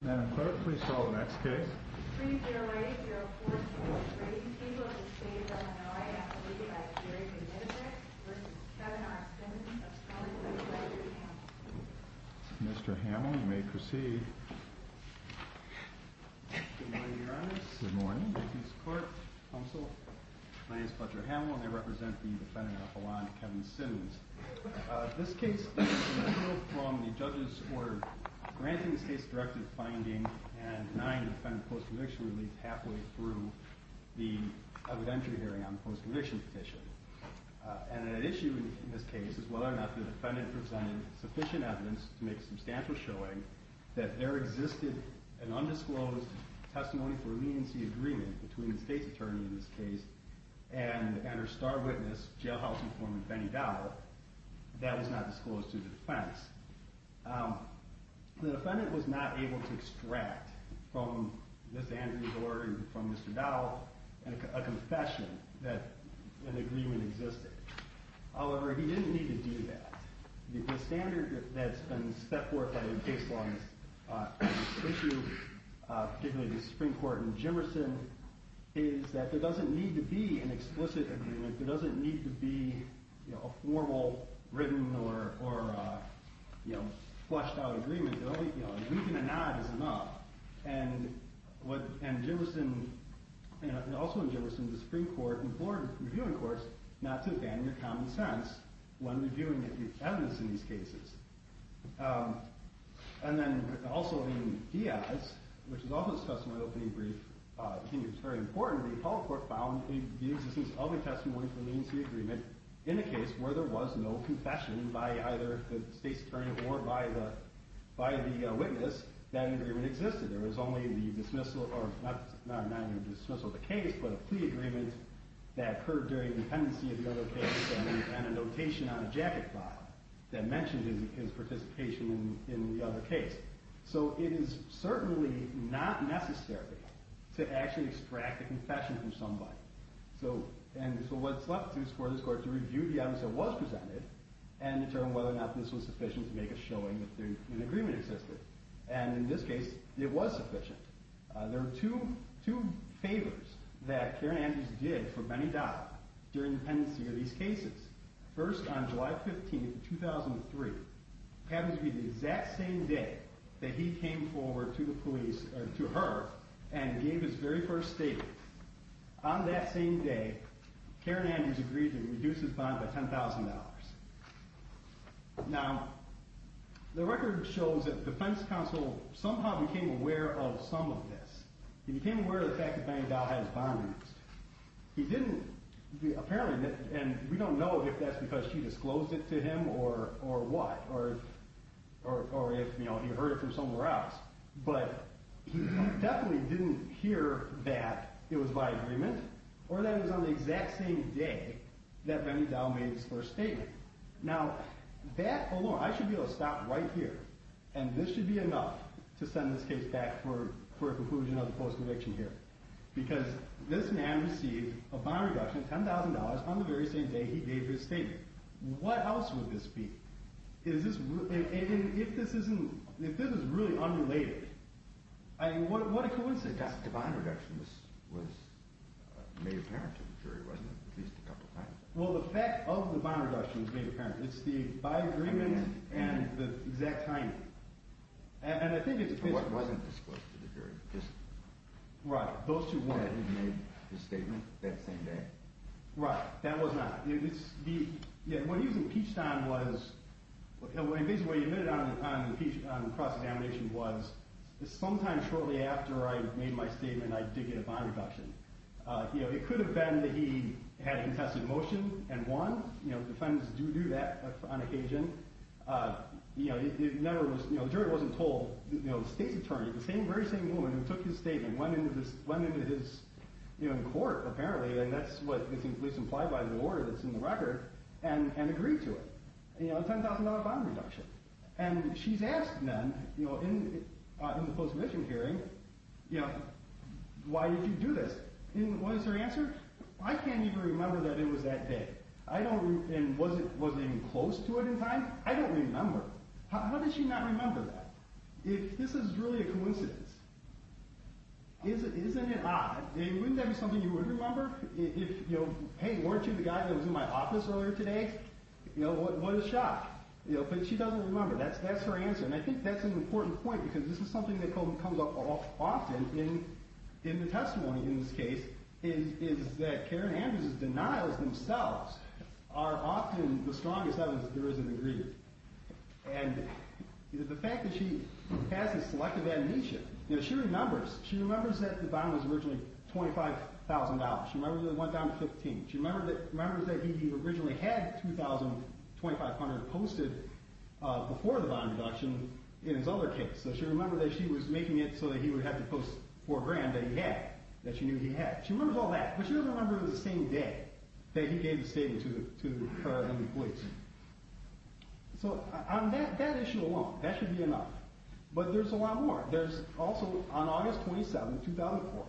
Spencer-Mr. Hamill you may proceed. Good morning, Your Honor. Good morning. Thank you, Mr. Court, Counsel. My name is Fletcher Hamill and I represent the defendant Alphalan, Kevin Sims. This case is a referral from the judges for granting the state's directive finding and denying the defendant post-conviction relief halfway through the evidentiary hearing on the post-conviction petition. And an issue in this case is whether or not the defendant presented sufficient evidence to make a substantial showing that there existed an undisclosed testimony for leniency agreement between the state's attorney in this case and her star witness, jailhouse informant, Benny Dowell, that was not disclosed to the defense. The defendant was not able to extract from Ms. Andrews' order and from Mr. Dowell a confession that an agreement existed. However, he didn't need to do that. The standard that's been set forth by the case law on this issue, particularly the Supreme Court and Jimmerson, is that there doesn't need to be an explicit agreement. There doesn't need to be a formal written or flushed out agreement. A week and a nod is enough. And also in Jimmerson, the Supreme Court implored reviewing courts not to abandon their common sense when reviewing evidence in these cases. And then also in Diaz, which is also discussed in my opening brief, I think it's very important, the Apollo Court found the existence of a testimony for leniency agreement in a case where there was no confession by either the state's attorney or by the witness that an agreement existed. There was only a plea agreement that occurred during the pendency of the other case and a notation on a jacket file that mentioned his participation in the other case. So it is certainly not necessary to actually extract a confession from somebody. And so what's left is for this court to review the evidence that was presented and determine whether or not this was sufficient to make a showing that an agreement existed. And in this case, it was sufficient. There are two favors that Karen Andrews did for Benny Dyer during the pendency of these cases. First, on July 15, 2003, happens to be the exact same day that he came forward to the police, or to her, and gave his very first statement. On that same day, Karen Andrews agreed to reduce his bond by $10,000. Now, the record shows that the defense counsel somehow became aware of some of this. He became aware of the fact that Benny Dyer had his bond reduced. He didn't, apparently, and we don't know if that's because she disclosed it to him or what, or if he heard it from somewhere else. But he definitely didn't hear that it was by agreement, or that it was on the exact same day that Benny Dyer made his first statement. Now, that alone, I should be able to stop right here, and this should be enough to send this case back for a conclusion of the post-conviction hearing. Because this man received a bond reduction of $10,000 on the very same day he gave his statement. What else would this be? If this is really unrelated, what a coincidence. The bond reduction was made apparent to the jury, wasn't it, at least a couple times? Well, the fact of the bond reduction was made apparent. It's the by agreement and the exact time. And I think it's this one. It wasn't disclosed to the jury. Right, those two weren't. That he made his statement that same day. Right, that was not. What he was impeached on was, and basically what he admitted on the cross-examination was, sometime shortly after I made my statement, I did get a bond reduction. It could have been that he had a contested motion and won. Defendants do do that on occasion. The jury wasn't told. The state's attorney, the very same woman who took his statement, went into his court, apparently, and that's what is at least implied by the order that's in the record, and agreed to it. A $10,000 bond reduction. And she's asked then, in the post-mission hearing, why did you do this? And what is her answer? I can't even remember that it was that day. And was it even close to it in time? I don't remember. How did she not remember that? If this is really a coincidence, isn't it odd? Wouldn't that be something you would remember? Hey, weren't you the guy that was in my office earlier today? What a shock. But she doesn't remember. That's her answer. And I think that's an important point, because this is something that comes up often in the testimony in this case, is that Karen Andrews' denials themselves are often the strongest evidence that there is an agreement. And the fact that she passes selective admonition, she remembers. She remembers that the bond was originally $25,000. She remembers that it went down to $15,000. She remembers that he originally had $2,500 posted before the bond reduction in his other case. So she remembers that she was making it so that he would have to post $4,000 that she knew he had. She remembers all that, but she doesn't remember the same day that he gave the statement to her and the police. So on that issue alone, that should be enough. But there's a lot more. There's also on August 27, 2004,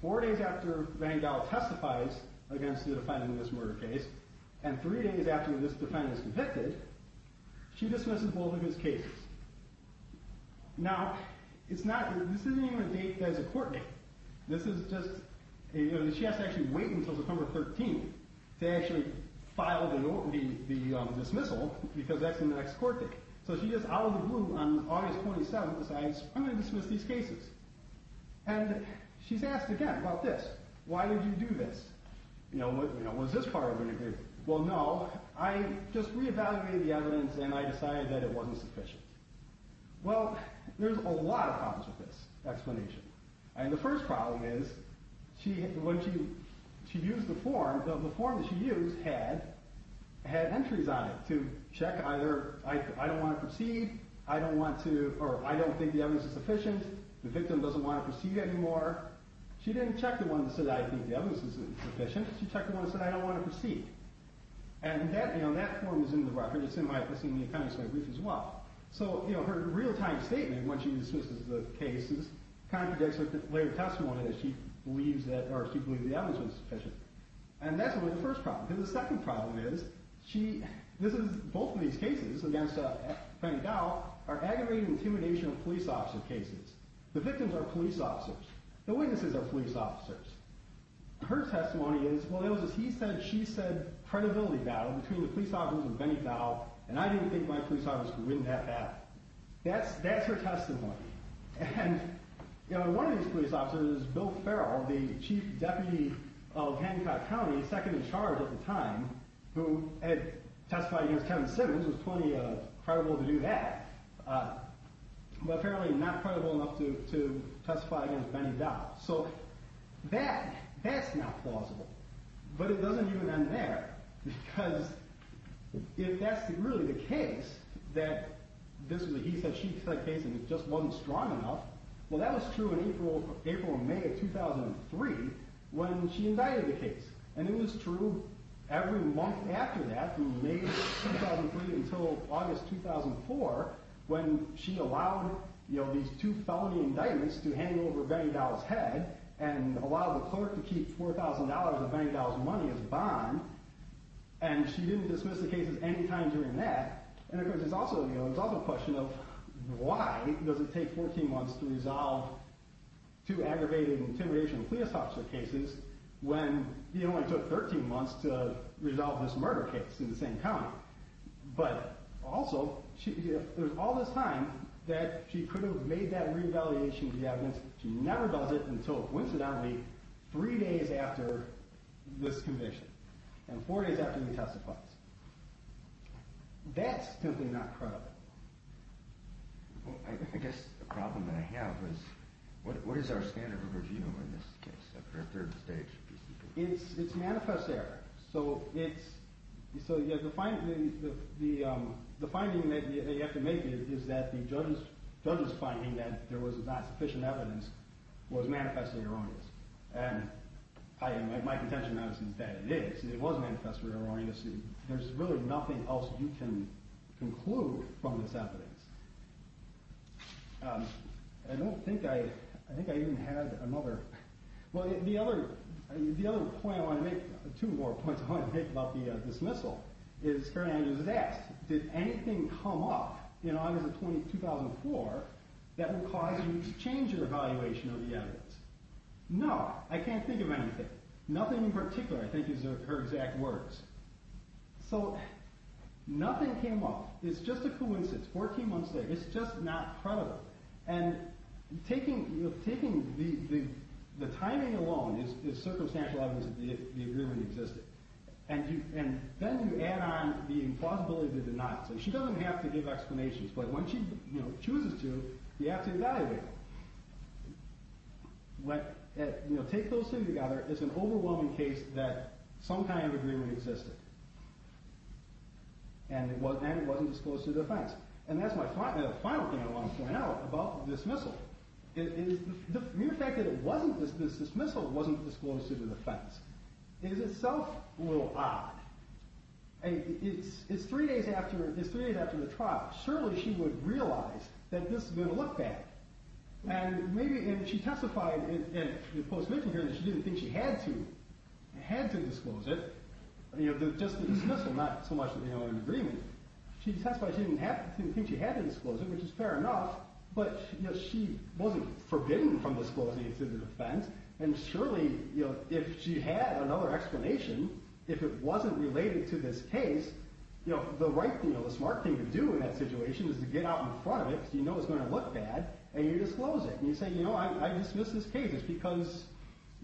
four days after Rangel testifies against the defendant in this murder case and three days after this defendant is convicted, she dismisses both of his cases. Now, this isn't even a date that is a court date. She has to actually wait until September 13 to actually file the dismissal because that's the next court date. So she just out of the blue on August 27 decides, I'm going to dismiss these cases. And she's asked again about this. Why did you do this? You know, was this part of an agreement? Well, no, I just reevaluated the evidence and I decided that it wasn't sufficient. Well, there's a lot of problems with this explanation. And the first problem is when she used the form, the form that she used had entries on it to check either I don't want to proceed, I don't want to, or I don't think the evidence is sufficient, the victim doesn't want to proceed anymore. She didn't check the one that said I think the evidence is sufficient. She checked the one that said I don't want to proceed. And that form is in the record. It's in my office in the Accounting Center brief as well. So her real-time statement when she dismisses the cases contradicts with the later testimony that she believes that, or she believed the evidence was sufficient. And that's really the first problem. And the second problem is she, this is, both of these cases against Penny Dow are aggravating intimidation of police officer cases. The victims are police officers. The witnesses are police officers. Her testimony is, well, it was a he-said-she-said credibility battle between the police officers and Penny Dow, and I didn't think my police officers could win that battle. That's her testimony. And one of these police officers, Bill Farrell, the chief deputy of Hancock County, second in charge at the time, who had testified against Kevin Simmons, was plenty credible to do that, but apparently not credible enough to testify against Penny Dow. So that, that's not plausible. But it doesn't even end there because if that's really the case, that this was a he-said-she-said case and it just wasn't strong enough, well, that was true in April and May of 2003 when she indicted the case. And it was true every month after that from May of 2003 until August 2004 when she allowed these two felony indictments to hang over Penny Dow's head and allowed the clerk to keep $4,000 of Penny Dow's money as a bond, and she didn't dismiss the cases any time during that. And, of course, it's also a question of why does it take 14 months to resolve two aggravated and intimidation police officer cases when it only took 13 months to resolve this murder case in the same county? But also, there's all this time that she could have made that re-evaluation of the evidence. She never does it until, coincidentally, three days after this conviction and four days after he testifies. That's simply not credible. Well, I guess the problem that I have is what is our standard of review in this case? Is there a third stage? It's manifest error. So the finding that you have to make is that the judge's finding that there was not sufficient evidence was manifestly erroneous. And my contention now is that it is. There's really nothing else you can conclude from this evidence. I don't think I even had another. Well, the other point I want to make, two more points I want to make about the dismissal, is that did anything come up in August of 2004 that would cause you to change your evaluation of the evidence? No. I can't think of anything. Nothing in particular, I think, is her exact words. So nothing came up. It's just a coincidence, 14 months later. It's just not credible. And taking the timing alone is circumstantial evidence that the agreement existed. And then you add on the implausibility of the denial. So she doesn't have to give explanations, but when she chooses to, you have to evaluate it. Take those two together. It's an overwhelming case that some kind of agreement existed. And it wasn't disclosed to the defense. And that's the final thing I want to point out about the dismissal. The mere fact that the dismissal wasn't disclosed to the defense is itself a little odd. It's three days after the trial. Surely she would realize that this is going to look bad. And she testified in the post-mission hearing that she didn't think she had to disclose it. Just the dismissal, not so much the agreement. She testified she didn't think she had to disclose it, which is fair enough. But she wasn't forbidden from disclosing it to the defense. And surely if she had another explanation, if it wasn't related to this case, the smart thing to do in that situation is to get out in front of it because you know it's going to look bad, and you disclose it. And you say, you know, I dismiss this case. It's because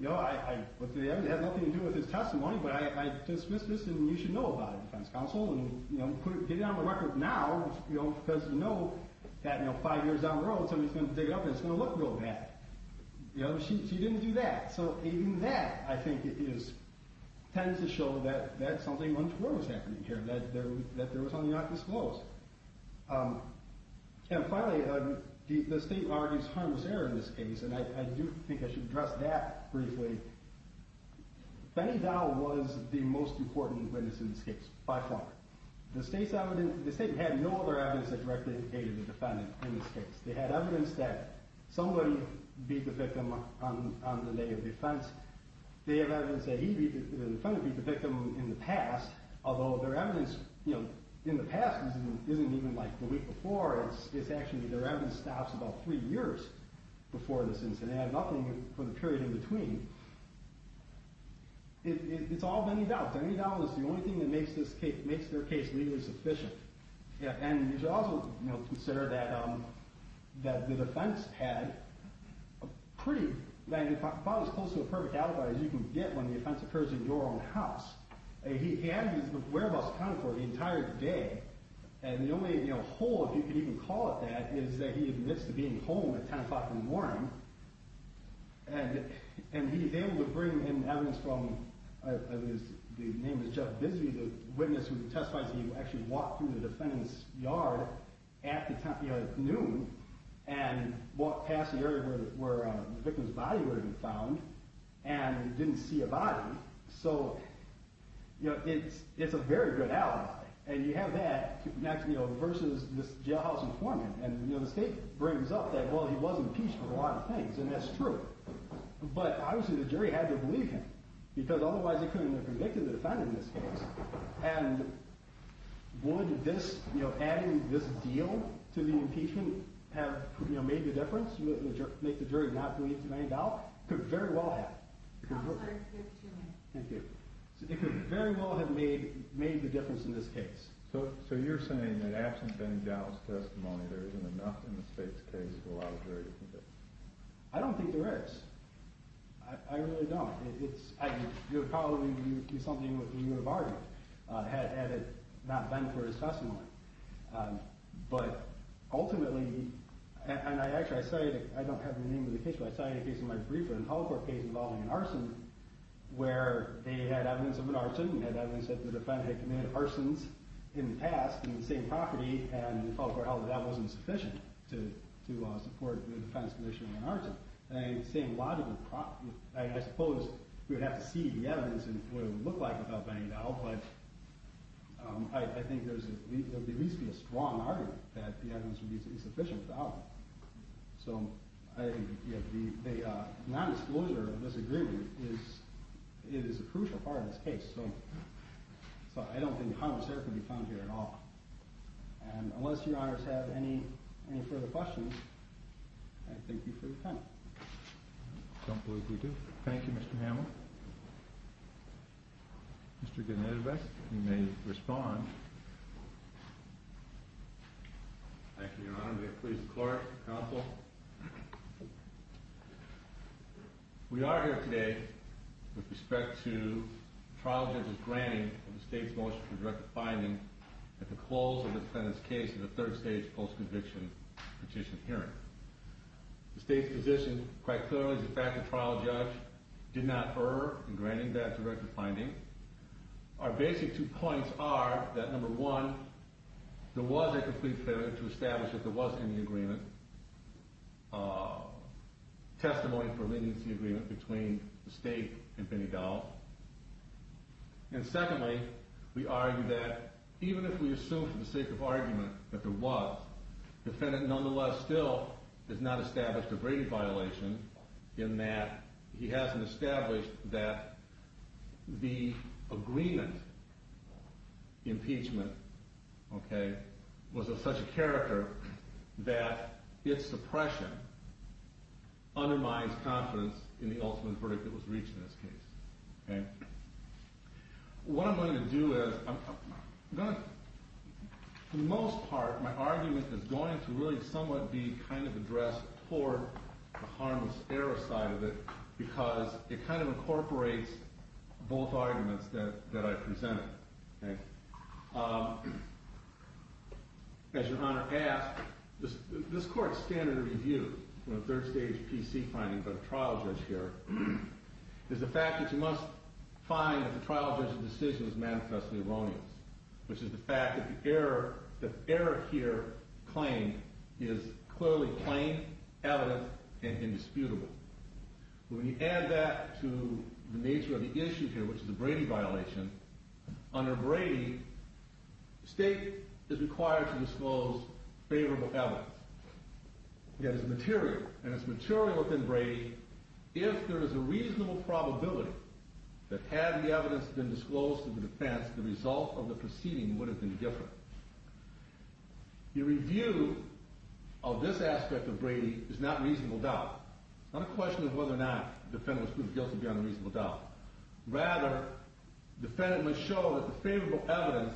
I have nothing to do with his testimony, but I dismiss this, and you should know about it, defense counsel. And get it on the record now because you know that five years down the road, somebody's going to dig it up, and it's going to look real bad. She didn't do that. So even that, I think, tends to show that something untoward was happening here, that there was something not disclosed. And finally, the state argues harmless error in this case, and I do think I should address that briefly. Benny Dow was the most important witness in this case by far. The state had no other evidence that directly indicated the defendant in this case. They had evidence that somebody beat the victim on the day of defense. They have evidence that the defendant beat the victim in the past, although their evidence in the past isn't even like the week before. It's actually their evidence stops about three years before this incident. They have nothing for the period in between. It's all Benny Dow. Benny Dow is the only thing that makes their case legally sufficient. And you should also consider that the defense had a pretty – about as close to a perfect alibi as you can get when the offense occurs in your own house. He had his whereabouts accounted for the entire day. And the only hole, if you could even call it that, is that he admits to being home at 10 o'clock in the morning. And he's able to bring in evidence from – the name is Jeff Bisbee, the witness who testifies that he actually walked through the defendant's yard at noon and walked past the area where the victim's body would have been found and didn't see a body. So it's a very good alibi. And you have that versus this jailhouse informant. And the state brings up that, well, he was impeached for a lot of things, and that's true. But obviously the jury had to believe him because otherwise they couldn't have convicted the defendant in this case. And would adding this deal to the impeachment have made the difference, make the jury not believe Benny Dow? It could very well have. Thank you. It could very well have made the difference in this case. So you're saying that absent Benny Dow's testimony, there isn't enough in the state's case to allow the jury to convict him? I don't think there is. I really don't. You're probably going to do something with your bargain had it not been for his testimony. But ultimately – and actually I say it, I don't have the name of the case, but I saw it in a case in my briefer, a public court case involving an arson where they had evidence of an arson, they had evidence that the defendant had committed arsons in the past in the same property, and the public court held that that wasn't sufficient to support the defense condition of an arson. I suppose we would have to see the evidence and what it would look like without Benny Dow, but I think there would at least be a strong argument that the evidence would be insufficient without him. So the non-disclosure of this agreement is a crucial part of this case, so I don't think how much there can be found here at all. And unless your honors have any further questions, I thank you for your time. I don't believe we do. Thank you, Mr. Hamill. Mr. Gennadievic, you may respond. Thank you, your honor. May it please the court, counsel. We are here today with respect to trial judge's granting of the state's motion for directive finding at the close of the defendant's case in the third stage post-conviction petition hearing. The state's position, quite clearly, is the fact the trial judge did not err in granting that directive finding. Our basic two points are that, number one, there was a complete failure to establish that there was any agreement, testimony for leniency agreement between the state and Benny Dow, and secondly, we argue that even if we assume for the sake of argument that there was, the defendant nonetheless still has not established a grading violation in that he hasn't established that the agreement impeachment was of such a character that its suppression undermines confidence in the ultimate verdict that was reached in this case. What I'm going to do is, for the most part, my argument is going to really somewhat be kind of addressed toward the harmless error side of it because it kind of incorporates both arguments that I presented. As your honor asked, this court's standard review in a third stage PC finding, but a trial judge here, is the fact that you must find that the trial judge's decision is manifestly erroneous, which is the fact that the error here claimed is clearly plain, evident, and indisputable. When you add that to the nature of the issue here, which is a grading violation, under Brady, the state is required to disclose favorable evidence. It is material, and it's material within Brady. If there is a reasonable probability that had the evidence been disclosed to the defense, the result of the proceeding would have been different. The review of this aspect of Brady is not reasonable doubt. It's not a question of whether or not the defendant was proven guilty beyond reasonable doubt. Rather, the defendant must show that the favorable evidence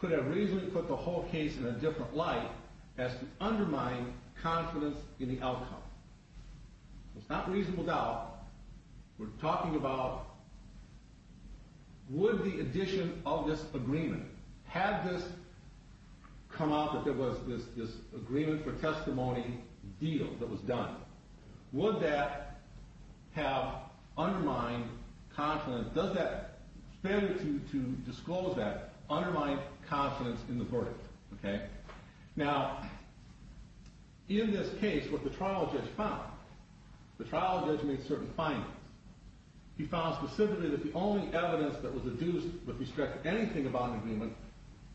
could have reasonably put the whole case in a different light as to undermine confidence in the outcome. It's not reasonable doubt. We're talking about would the addition of this agreement, had this come out that there was this agreement for testimony deal that was done, would that have undermined confidence? Does that failure to disclose that undermine confidence in the verdict? Now, in this case, what the trial judge found, the trial judge made certain findings. He found specifically that the only evidence that was deduced that restricted anything about an agreement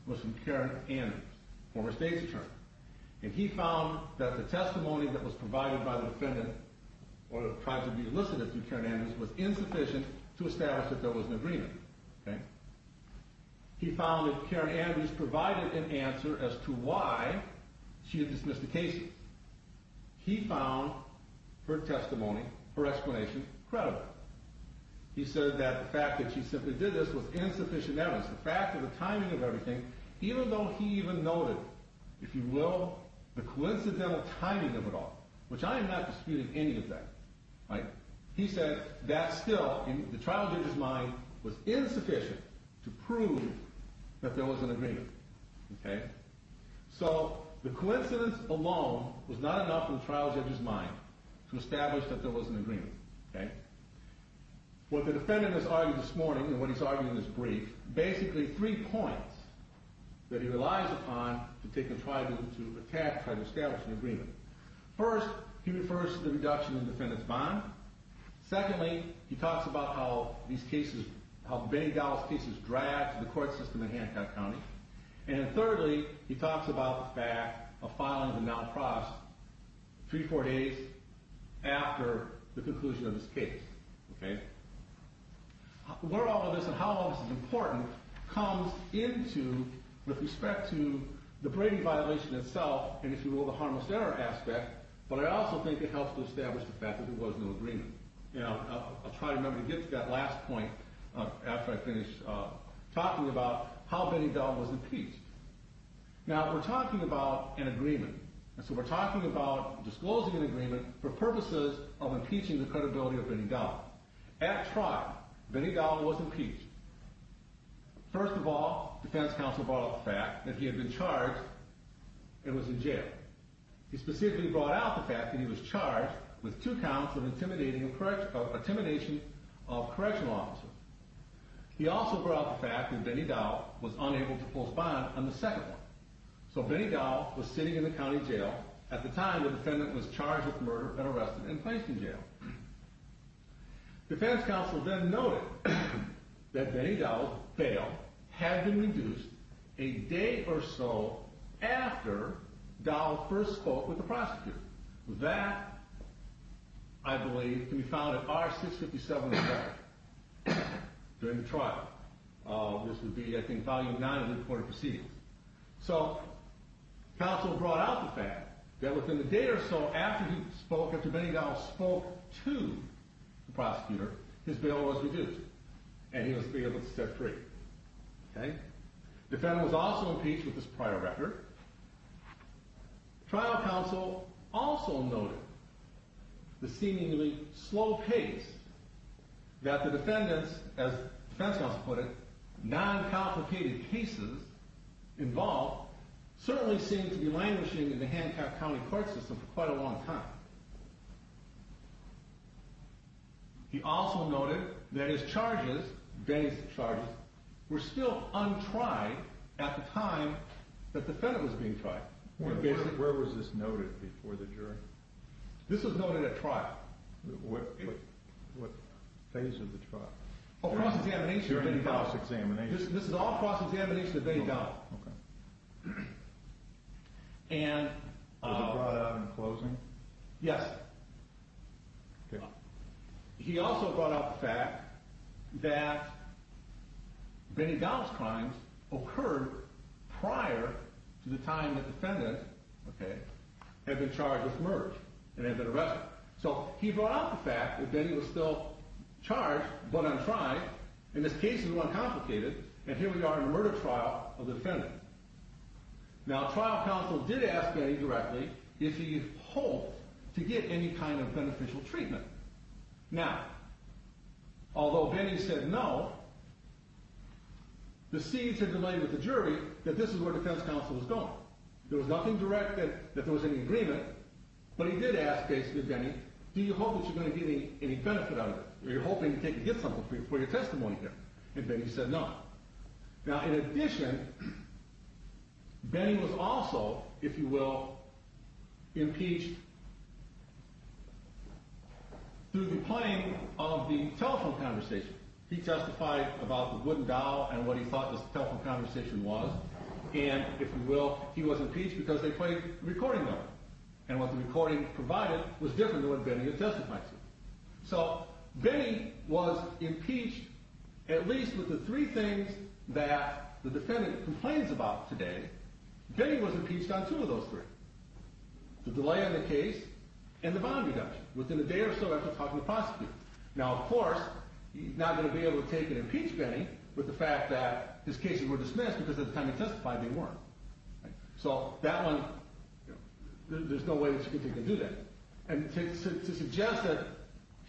was from Karen Andrews, former state's attorney. And he found that the testimony that was provided by the defendant or tried to be elicited through Karen Andrews was insufficient to establish that there was an agreement. He found that Karen Andrews provided an answer as to why she had dismissed the case. He found her testimony, her explanation, credible. He said that the fact that she simply did this was insufficient evidence. The fact of the timing of everything, even though he even noted, if you will, the coincidental timing of it all, which I am not disputing any of that. He said that still, in the trial judge's mind, was insufficient to prove that there was an agreement. So the coincidence alone was not enough in the trial judge's mind to establish that there was an agreement. What the defendant has argued this morning and what he's arguing in this brief, is basically three points that he relies upon to try to establish an agreement. First, he refers to the reduction in the defendant's bond. Secondly, he talks about how Benny Dowell's case was dragged to the court system in Hancock County. And thirdly, he talks about the fact of filing the non-profit three or four days after the conclusion of his case. Where all of this and how all of this is important comes into with respect to the Brady violation itself, and if you will, the harmless error aspect. But I also think it helps to establish the fact that there was no agreement. I'll try to remember to get to that last point after I finish talking about how Benny Dowell was impeached. Now, we're talking about an agreement. And so we're talking about disclosing an agreement for purposes of impeaching the credibility of Benny Dowell. At trial, Benny Dowell was impeached. First of all, defense counsel brought up the fact that he had been charged and was in jail. He specifically brought out the fact that he was charged with two counts of intimidation of correctional officers. He also brought up the fact that Benny Dowell was unable to post bond on the second one. So Benny Dowell was sitting in the county jail. At the time, the defendant was charged with murder and arrested and placed in jail. Defense counsel then noted that Benny Dowell's bail had been reduced a day or so after Dowell first spoke with the prosecutor. That, I believe, can be found in R657 in the record during the trial. This would be, I think, Volume 9 of the recorded proceedings. So counsel brought out the fact that within the day or so after Benny Dowell spoke to the prosecutor, his bail was reduced. And he was able to step free. The defendant was also impeached with this prior record. Trial counsel also noted the seemingly slow pace that the defendants, as defense counsel put it, non-complicated cases involved, certainly seemed to be languishing in the Hancock County court system for quite a long time. He also noted that his charges, Benny's charges, were still untried at the time that the defendant was being tried. Where was this noted before the jury? This was noted at trial. What phase of the trial? Oh, cross-examination of Benny Dowell. This is all cross-examination of Benny Dowell. Was it brought out in closing? Yes. He also brought out the fact that Benny Dowell's crimes occurred prior to the time that the defendant had been charged with murder and had been arrested. So he brought out the fact that Benny was still charged but untried, and his cases were uncomplicated, and here we are in a murder trial of the defendant. Now, trial counsel did ask Benny directly if he hoped to get any kind of beneficial treatment. Now, although Benny said no, the seeds had been laid with the jury that this is where defense counsel was going. There was nothing direct that there was any agreement, but he did ask Benny, do you hope that you're going to get any benefit out of it? Are you hoping to get something for your testimony here? And Benny said no. Now, in addition, Benny was also, if you will, impeached through the playing of the telephone conversation. He testified about the wooden dowel and what he thought this telephone conversation was, and if you will, he was impeached because they played a recording of it, and what the recording provided was different than what Benny had testified to. So Benny was impeached at least with the three things that the defendant complains about today. Benny was impeached on two of those three, the delay in the case and the bond reduction within a day or so after talking to the prosecutor. Now, of course, he's not going to be able to take and impeach Benny with the fact that his cases were dismissed because at the time he testified they weren't. So that one, there's no way that he can do that. And to suggest that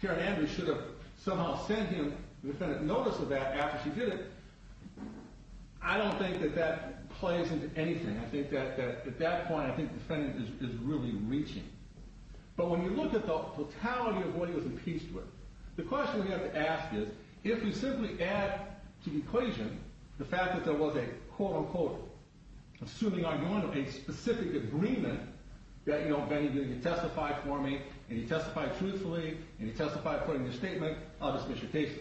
Karen Andrews should have somehow sent him the defendant's notice of that after she did it, I don't think that that plays into anything. I think that at that point I think the defendant is really reaching. But when you look at the totality of what he was impeached with, the question we have to ask is, if you simply add to the equation the fact that there was a quote-unquote, assuming I'm doing a specific agreement, that, you know, Benny did, he testified for me, and he testified truthfully, and he testified according to his statement, I'll dismiss your case.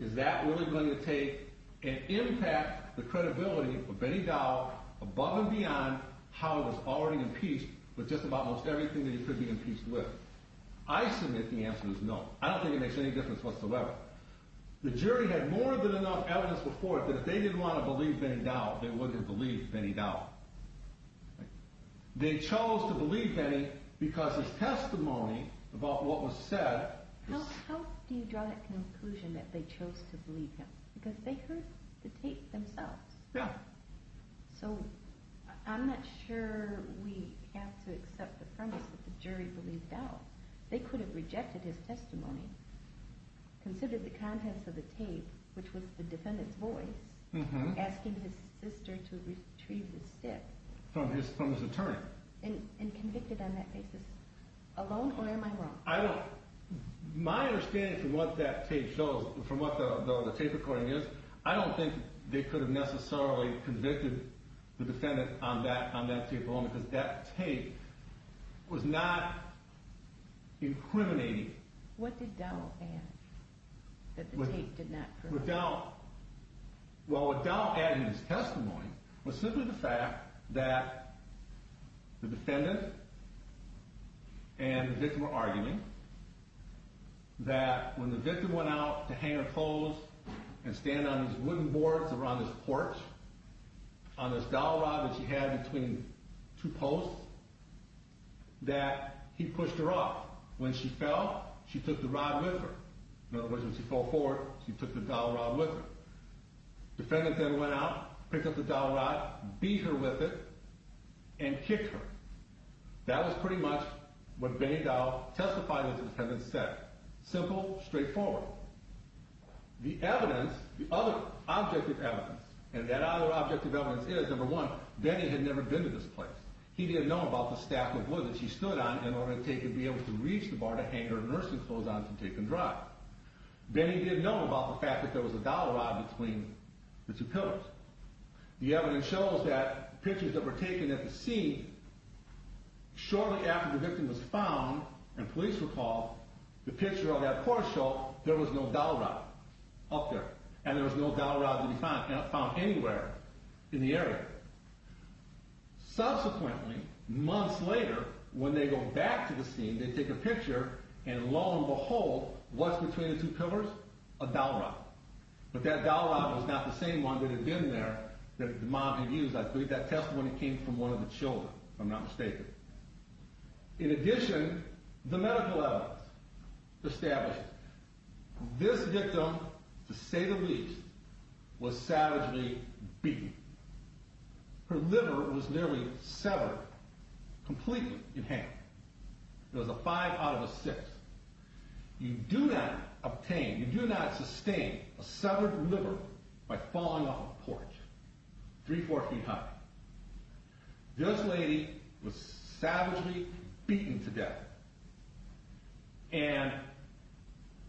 Is that really going to take and impact the credibility of Benny Dow above and beyond how he was already impeached with just about almost everything that he could be impeached with? I submit the answer is no. I don't think it makes any difference whatsoever. The jury had more than enough evidence before it that if they didn't want to believe Benny Dow, they wouldn't have believed Benny Dow. They chose to believe Benny because his testimony about what was said – How do you draw that conclusion that they chose to believe him? Because they heard the tape themselves. Yeah. So I'm not sure we have to accept the premise that the jury believed Dow. They could have rejected his testimony, considered the contents of the tape, which was the defendant's voice, asking his sister to retrieve the stick. From his attorney. And convicted on that basis. Alone, or am I wrong? My understanding from what that tape shows, from what the tape recording is, I don't think they could have necessarily convicted the defendant on that tape alone because that tape was not incriminating. What did Dow add that the tape did not prove? Well, what Dow added in his testimony was simply the fact that the defendant and the victim were arguing that when the victim went out to hang her clothes and stand on these wooden boards around this porch on this dowel rod that she had between two posts, that he pushed her up. When she fell, she took the rod with her. In other words, when she fell forward, she took the dowel rod with her. The defendant then went out, picked up the dowel rod, beat her with it, and kicked her. That was pretty much what Benny Dow testified as the defendant said. Simple, straightforward. The evidence, the other objective evidence, and that other objective evidence is, number one, Benny had never been to this place. He didn't know about the stack of wood that she stood on in order to be able to reach the bar to hang her nursing clothes on to take them dry. Benny didn't know about the fact that there was a dowel rod between the two pillars. The evidence shows that pictures that were taken at the scene, shortly after the victim was found, and police were called, the picture of that porch showed there was no dowel rod up there. And there was no dowel rod to be found anywhere in the area. Subsequently, months later, when they go back to the scene, they take a picture, and lo and behold, what's between the two pillars? A dowel rod. But that dowel rod was not the same one that had been there that the mom had used. I believe that testimony came from one of the children, if I'm not mistaken. In addition, the medical evidence established this victim, to say the least, was savagely beaten. Her liver was nearly severed, completely, in hand. It was a five out of a six. You do not obtain, you do not sustain a severed liver by falling off a porch three, four feet high. This lady was savagely beaten to death. And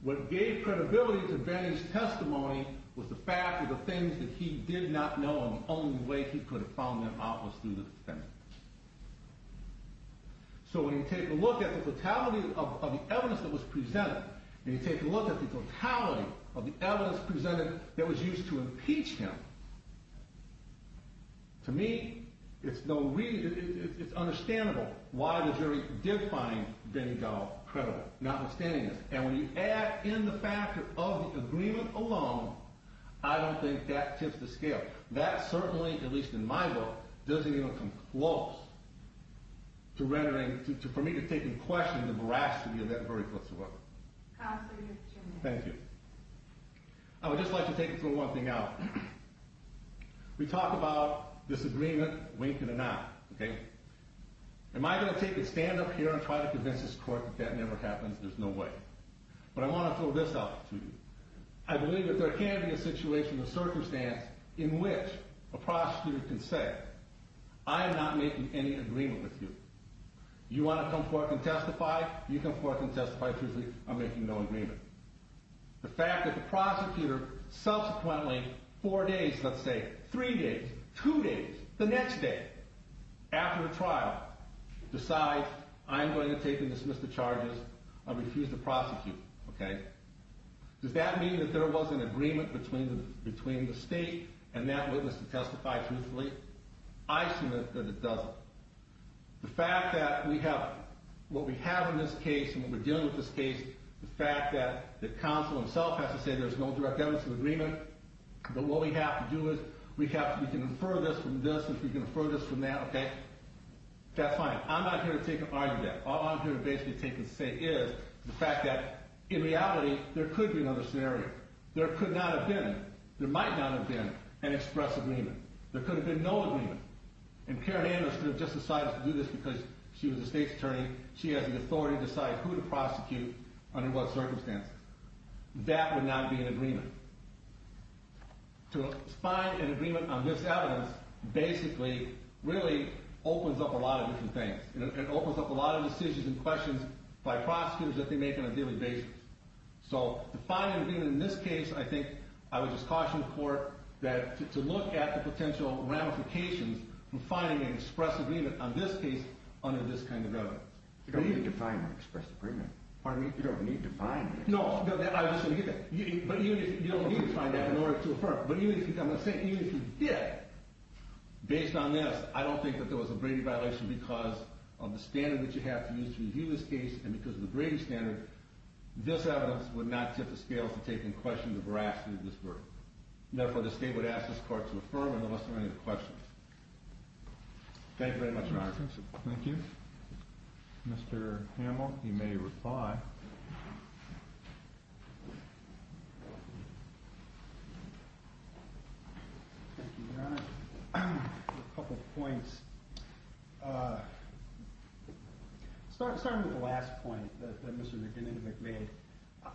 what gave credibility to Benny's testimony was the fact that the things that he did not know, and the only way he could have found them out, was through the defendant. So when you take a look at the totality of the evidence that was presented, and you take a look at the totality of the evidence presented that was used to impeach him, to me, it's understandable why the jury did find Benny Dowell credible, notwithstanding this. And when you add in the fact of the agreement alone, I don't think that tips the scale. That certainly, at least in my book, doesn't even come close to rendering, for me to take in question, the veracity of that very book. Thank you. I would just like to take and throw one thing out. We talk about disagreement, wink and a nod. Am I going to stand up here and try to convince this court that that never happens? There's no way. But I want to throw this out to you. I believe that there can be a situation, a circumstance, in which a prosecutor can say, I am not making any agreement with you. You want to come forth and testify, you come forth and testify truthfully, I'm making no agreement. The fact that the prosecutor subsequently, four days, let's say, three days, two days, the next day, after a trial, decides, I'm going to take and dismiss the charges, I refuse to prosecute. Does that mean that there was an agreement between the state and that witness to testify truthfully? I submit that it doesn't. The fact that we have, what we have in this case and what we're dealing with in this case, the fact that the counsel himself has to say there's no direct evidence of agreement, but what we have to do is, we can infer this from this, we can infer this from that, okay, that's fine. I'm not here to take an argument. All I'm here to basically take and say is the fact that, in reality, there could be another scenario. There could not have been, there might not have been, an express agreement. There could have been no agreement. And Karen Anderson would have just decided to do this because she was a state's attorney. She has the authority to decide who to prosecute under what circumstances. That would not be an agreement. To find an agreement on this evidence basically really opens up a lot of different things. It opens up a lot of decisions and questions by prosecutors that they make on a daily basis. So to find an agreement in this case, I think I would just caution the court to look at the potential ramifications from finding an express agreement on this case under this kind of evidence. You don't need to define an express agreement. Pardon me? You don't need to define it. No, I was just going to get that. But you don't need to define that in order to affirm it. But even if you did, based on this, I don't think that there was a Brady violation because of the standard that you have to use to review this case and because of the Brady standard. This evidence would not tip the scales to take into question the veracity of this verdict. Therefore, the state would ask this court to affirm unless there are any questions. Thank you very much, Your Honor. Thank you. Mr. Hamill, you may reply. Thank you, Your Honor. A couple of points. Starting with the last point that Mr. Vanden Heuvel made,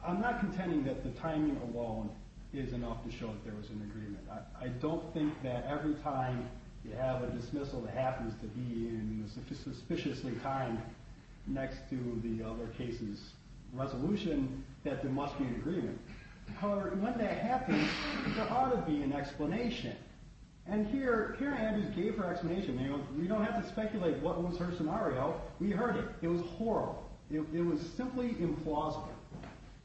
I'm not contending that the timing alone is enough to show that there was an agreement. I don't think that every time you have a dismissal that happens to be in a suspiciously timed next to the other case's resolution that there must be an agreement. However, when that happens, there ought to be an explanation. And here, Karen Andrews gave her explanation. We don't have to speculate what was her scenario. We heard it. It was horrible. It was simply implausible.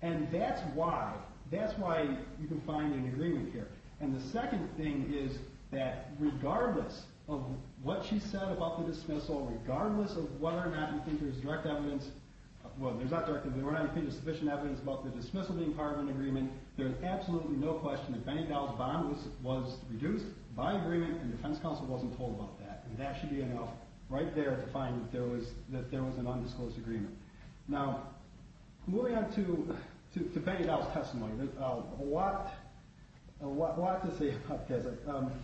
And that's why you can find an agreement here. And the second thing is that regardless of what she said about the dismissal, regardless of whether or not you think there's direct evidence – well, there's not direct evidence, and the defense counsel wasn't told about that. And that should be enough right there to find that there was an undisclosed agreement. Now, moving on to Peggy Dow's testimony, there's a lot to say about this.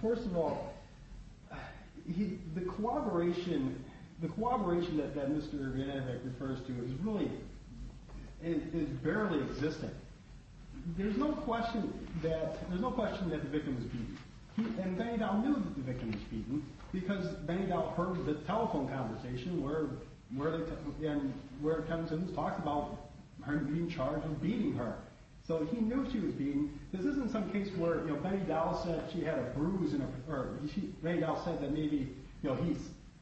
First of all, the corroboration that Mr. Yovanovitch refers to is really – is barely existing. There's no question that the victim was beaten. And Benny Dow knew that the victim was beaten because Benny Dow heard the telephone conversation where it comes in and talks about her being charged and beating her. So he knew she was beaten. This isn't some case where, you know, Benny Dow said she had a bruise in her – or Benny Dow said that maybe, you know,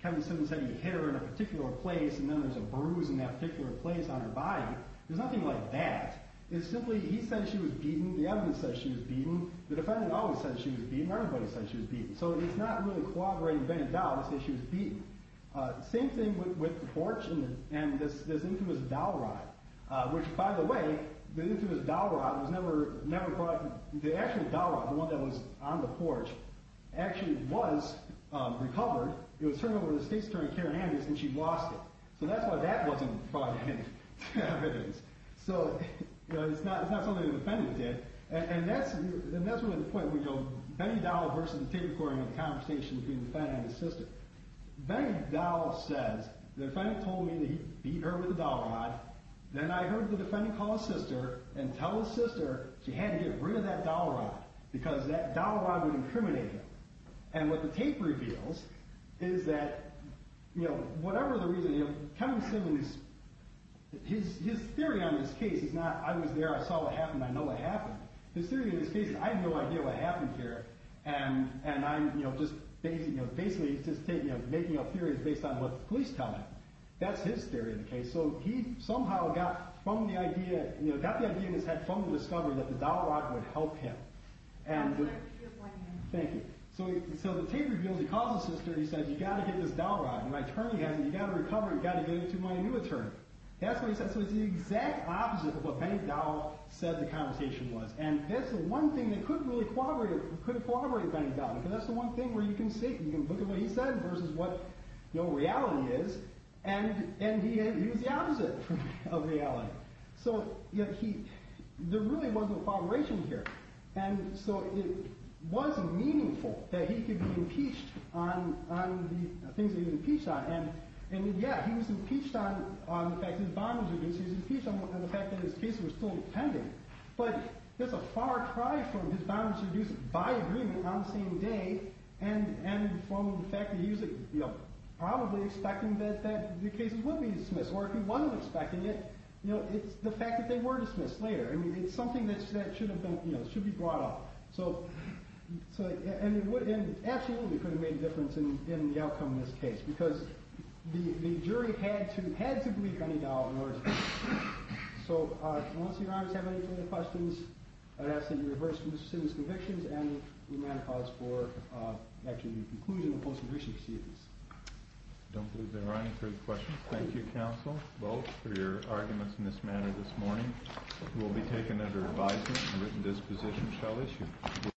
Kevin Simmons had a hair in a particular place, and then there's a bruise in that particular place on her body. There's nothing like that. It's simply he said she was beaten. The evidence says she was beaten. The defendant always says she was beaten. Everybody says she was beaten. Same thing with the porch and this infamous dowel rod, which, by the way, the infamous dowel rod was never brought – the actual dowel rod, the one that was on the porch, actually was recovered. It was turned over to the state's attorney, Karen Hammonds, and she lost it. So that's why that wasn't brought in as evidence. So it's not something the defendant did. And that's really the point. You know, Benny Dow versus the tape recording of the conversation between the defendant and his sister. Benny Dow says the defendant told me that he beat her with a dowel rod. Then I heard the defendant call his sister and tell his sister she had to get rid of that dowel rod because that dowel rod would incriminate him. And what the tape reveals is that, you know, whatever the reason, you know, Kevin Simmons, his theory on this case is not I was there, I saw what happened, I know what happened. His theory on this case is I have no idea what happened here, and I'm, you know, just basically making up theories based on what the police tell me. That's his theory on the case. So he somehow got from the idea – you know, got the idea in his head from the discovery that the dowel rod would help him. And – That's a very beautiful ending. Thank you. So the tape reveals he calls his sister and he says, you've got to get this dowel rod. And my attorney has it. You've got to recover it. You've got to get it to my new attorney. That's what he said. So it's the exact opposite of what Benny Dowell said the conversation was. And that's the one thing that could really corroborate Benny Dowell, because that's the one thing where you can see – you can look at what he said versus what, you know, reality is. And he was the opposite of reality. So, you know, he – there really was a corroboration here. And so it was meaningful that he could be impeached on the things that he was impeached on. And, yeah, he was impeached on the fact that his bond was reduced. He was impeached on the fact that his cases were still pending. But there's a far cry from his bond was reduced by agreement on the same day and from the fact that he was, you know, probably expecting that the cases would be dismissed. Or if he wasn't expecting it, you know, it's the fact that they were dismissed later. I mean, it's something that should have been – you know, should be brought up. So – and it would – and it absolutely could have made a difference in the outcome of this case, because the jury had to – had to believe Benny Dowell in order to – So, I don't see your Honors have any further questions. I'd ask that you reverse Mr. Simmons' convictions and remand the cause for, actually, the conclusion of the post-conviction proceedings. I don't believe there are any further questions. Thank you, counsel, both, for your arguments in this manner this morning. This hearing will be taken under advisement and written dispositions shall issue.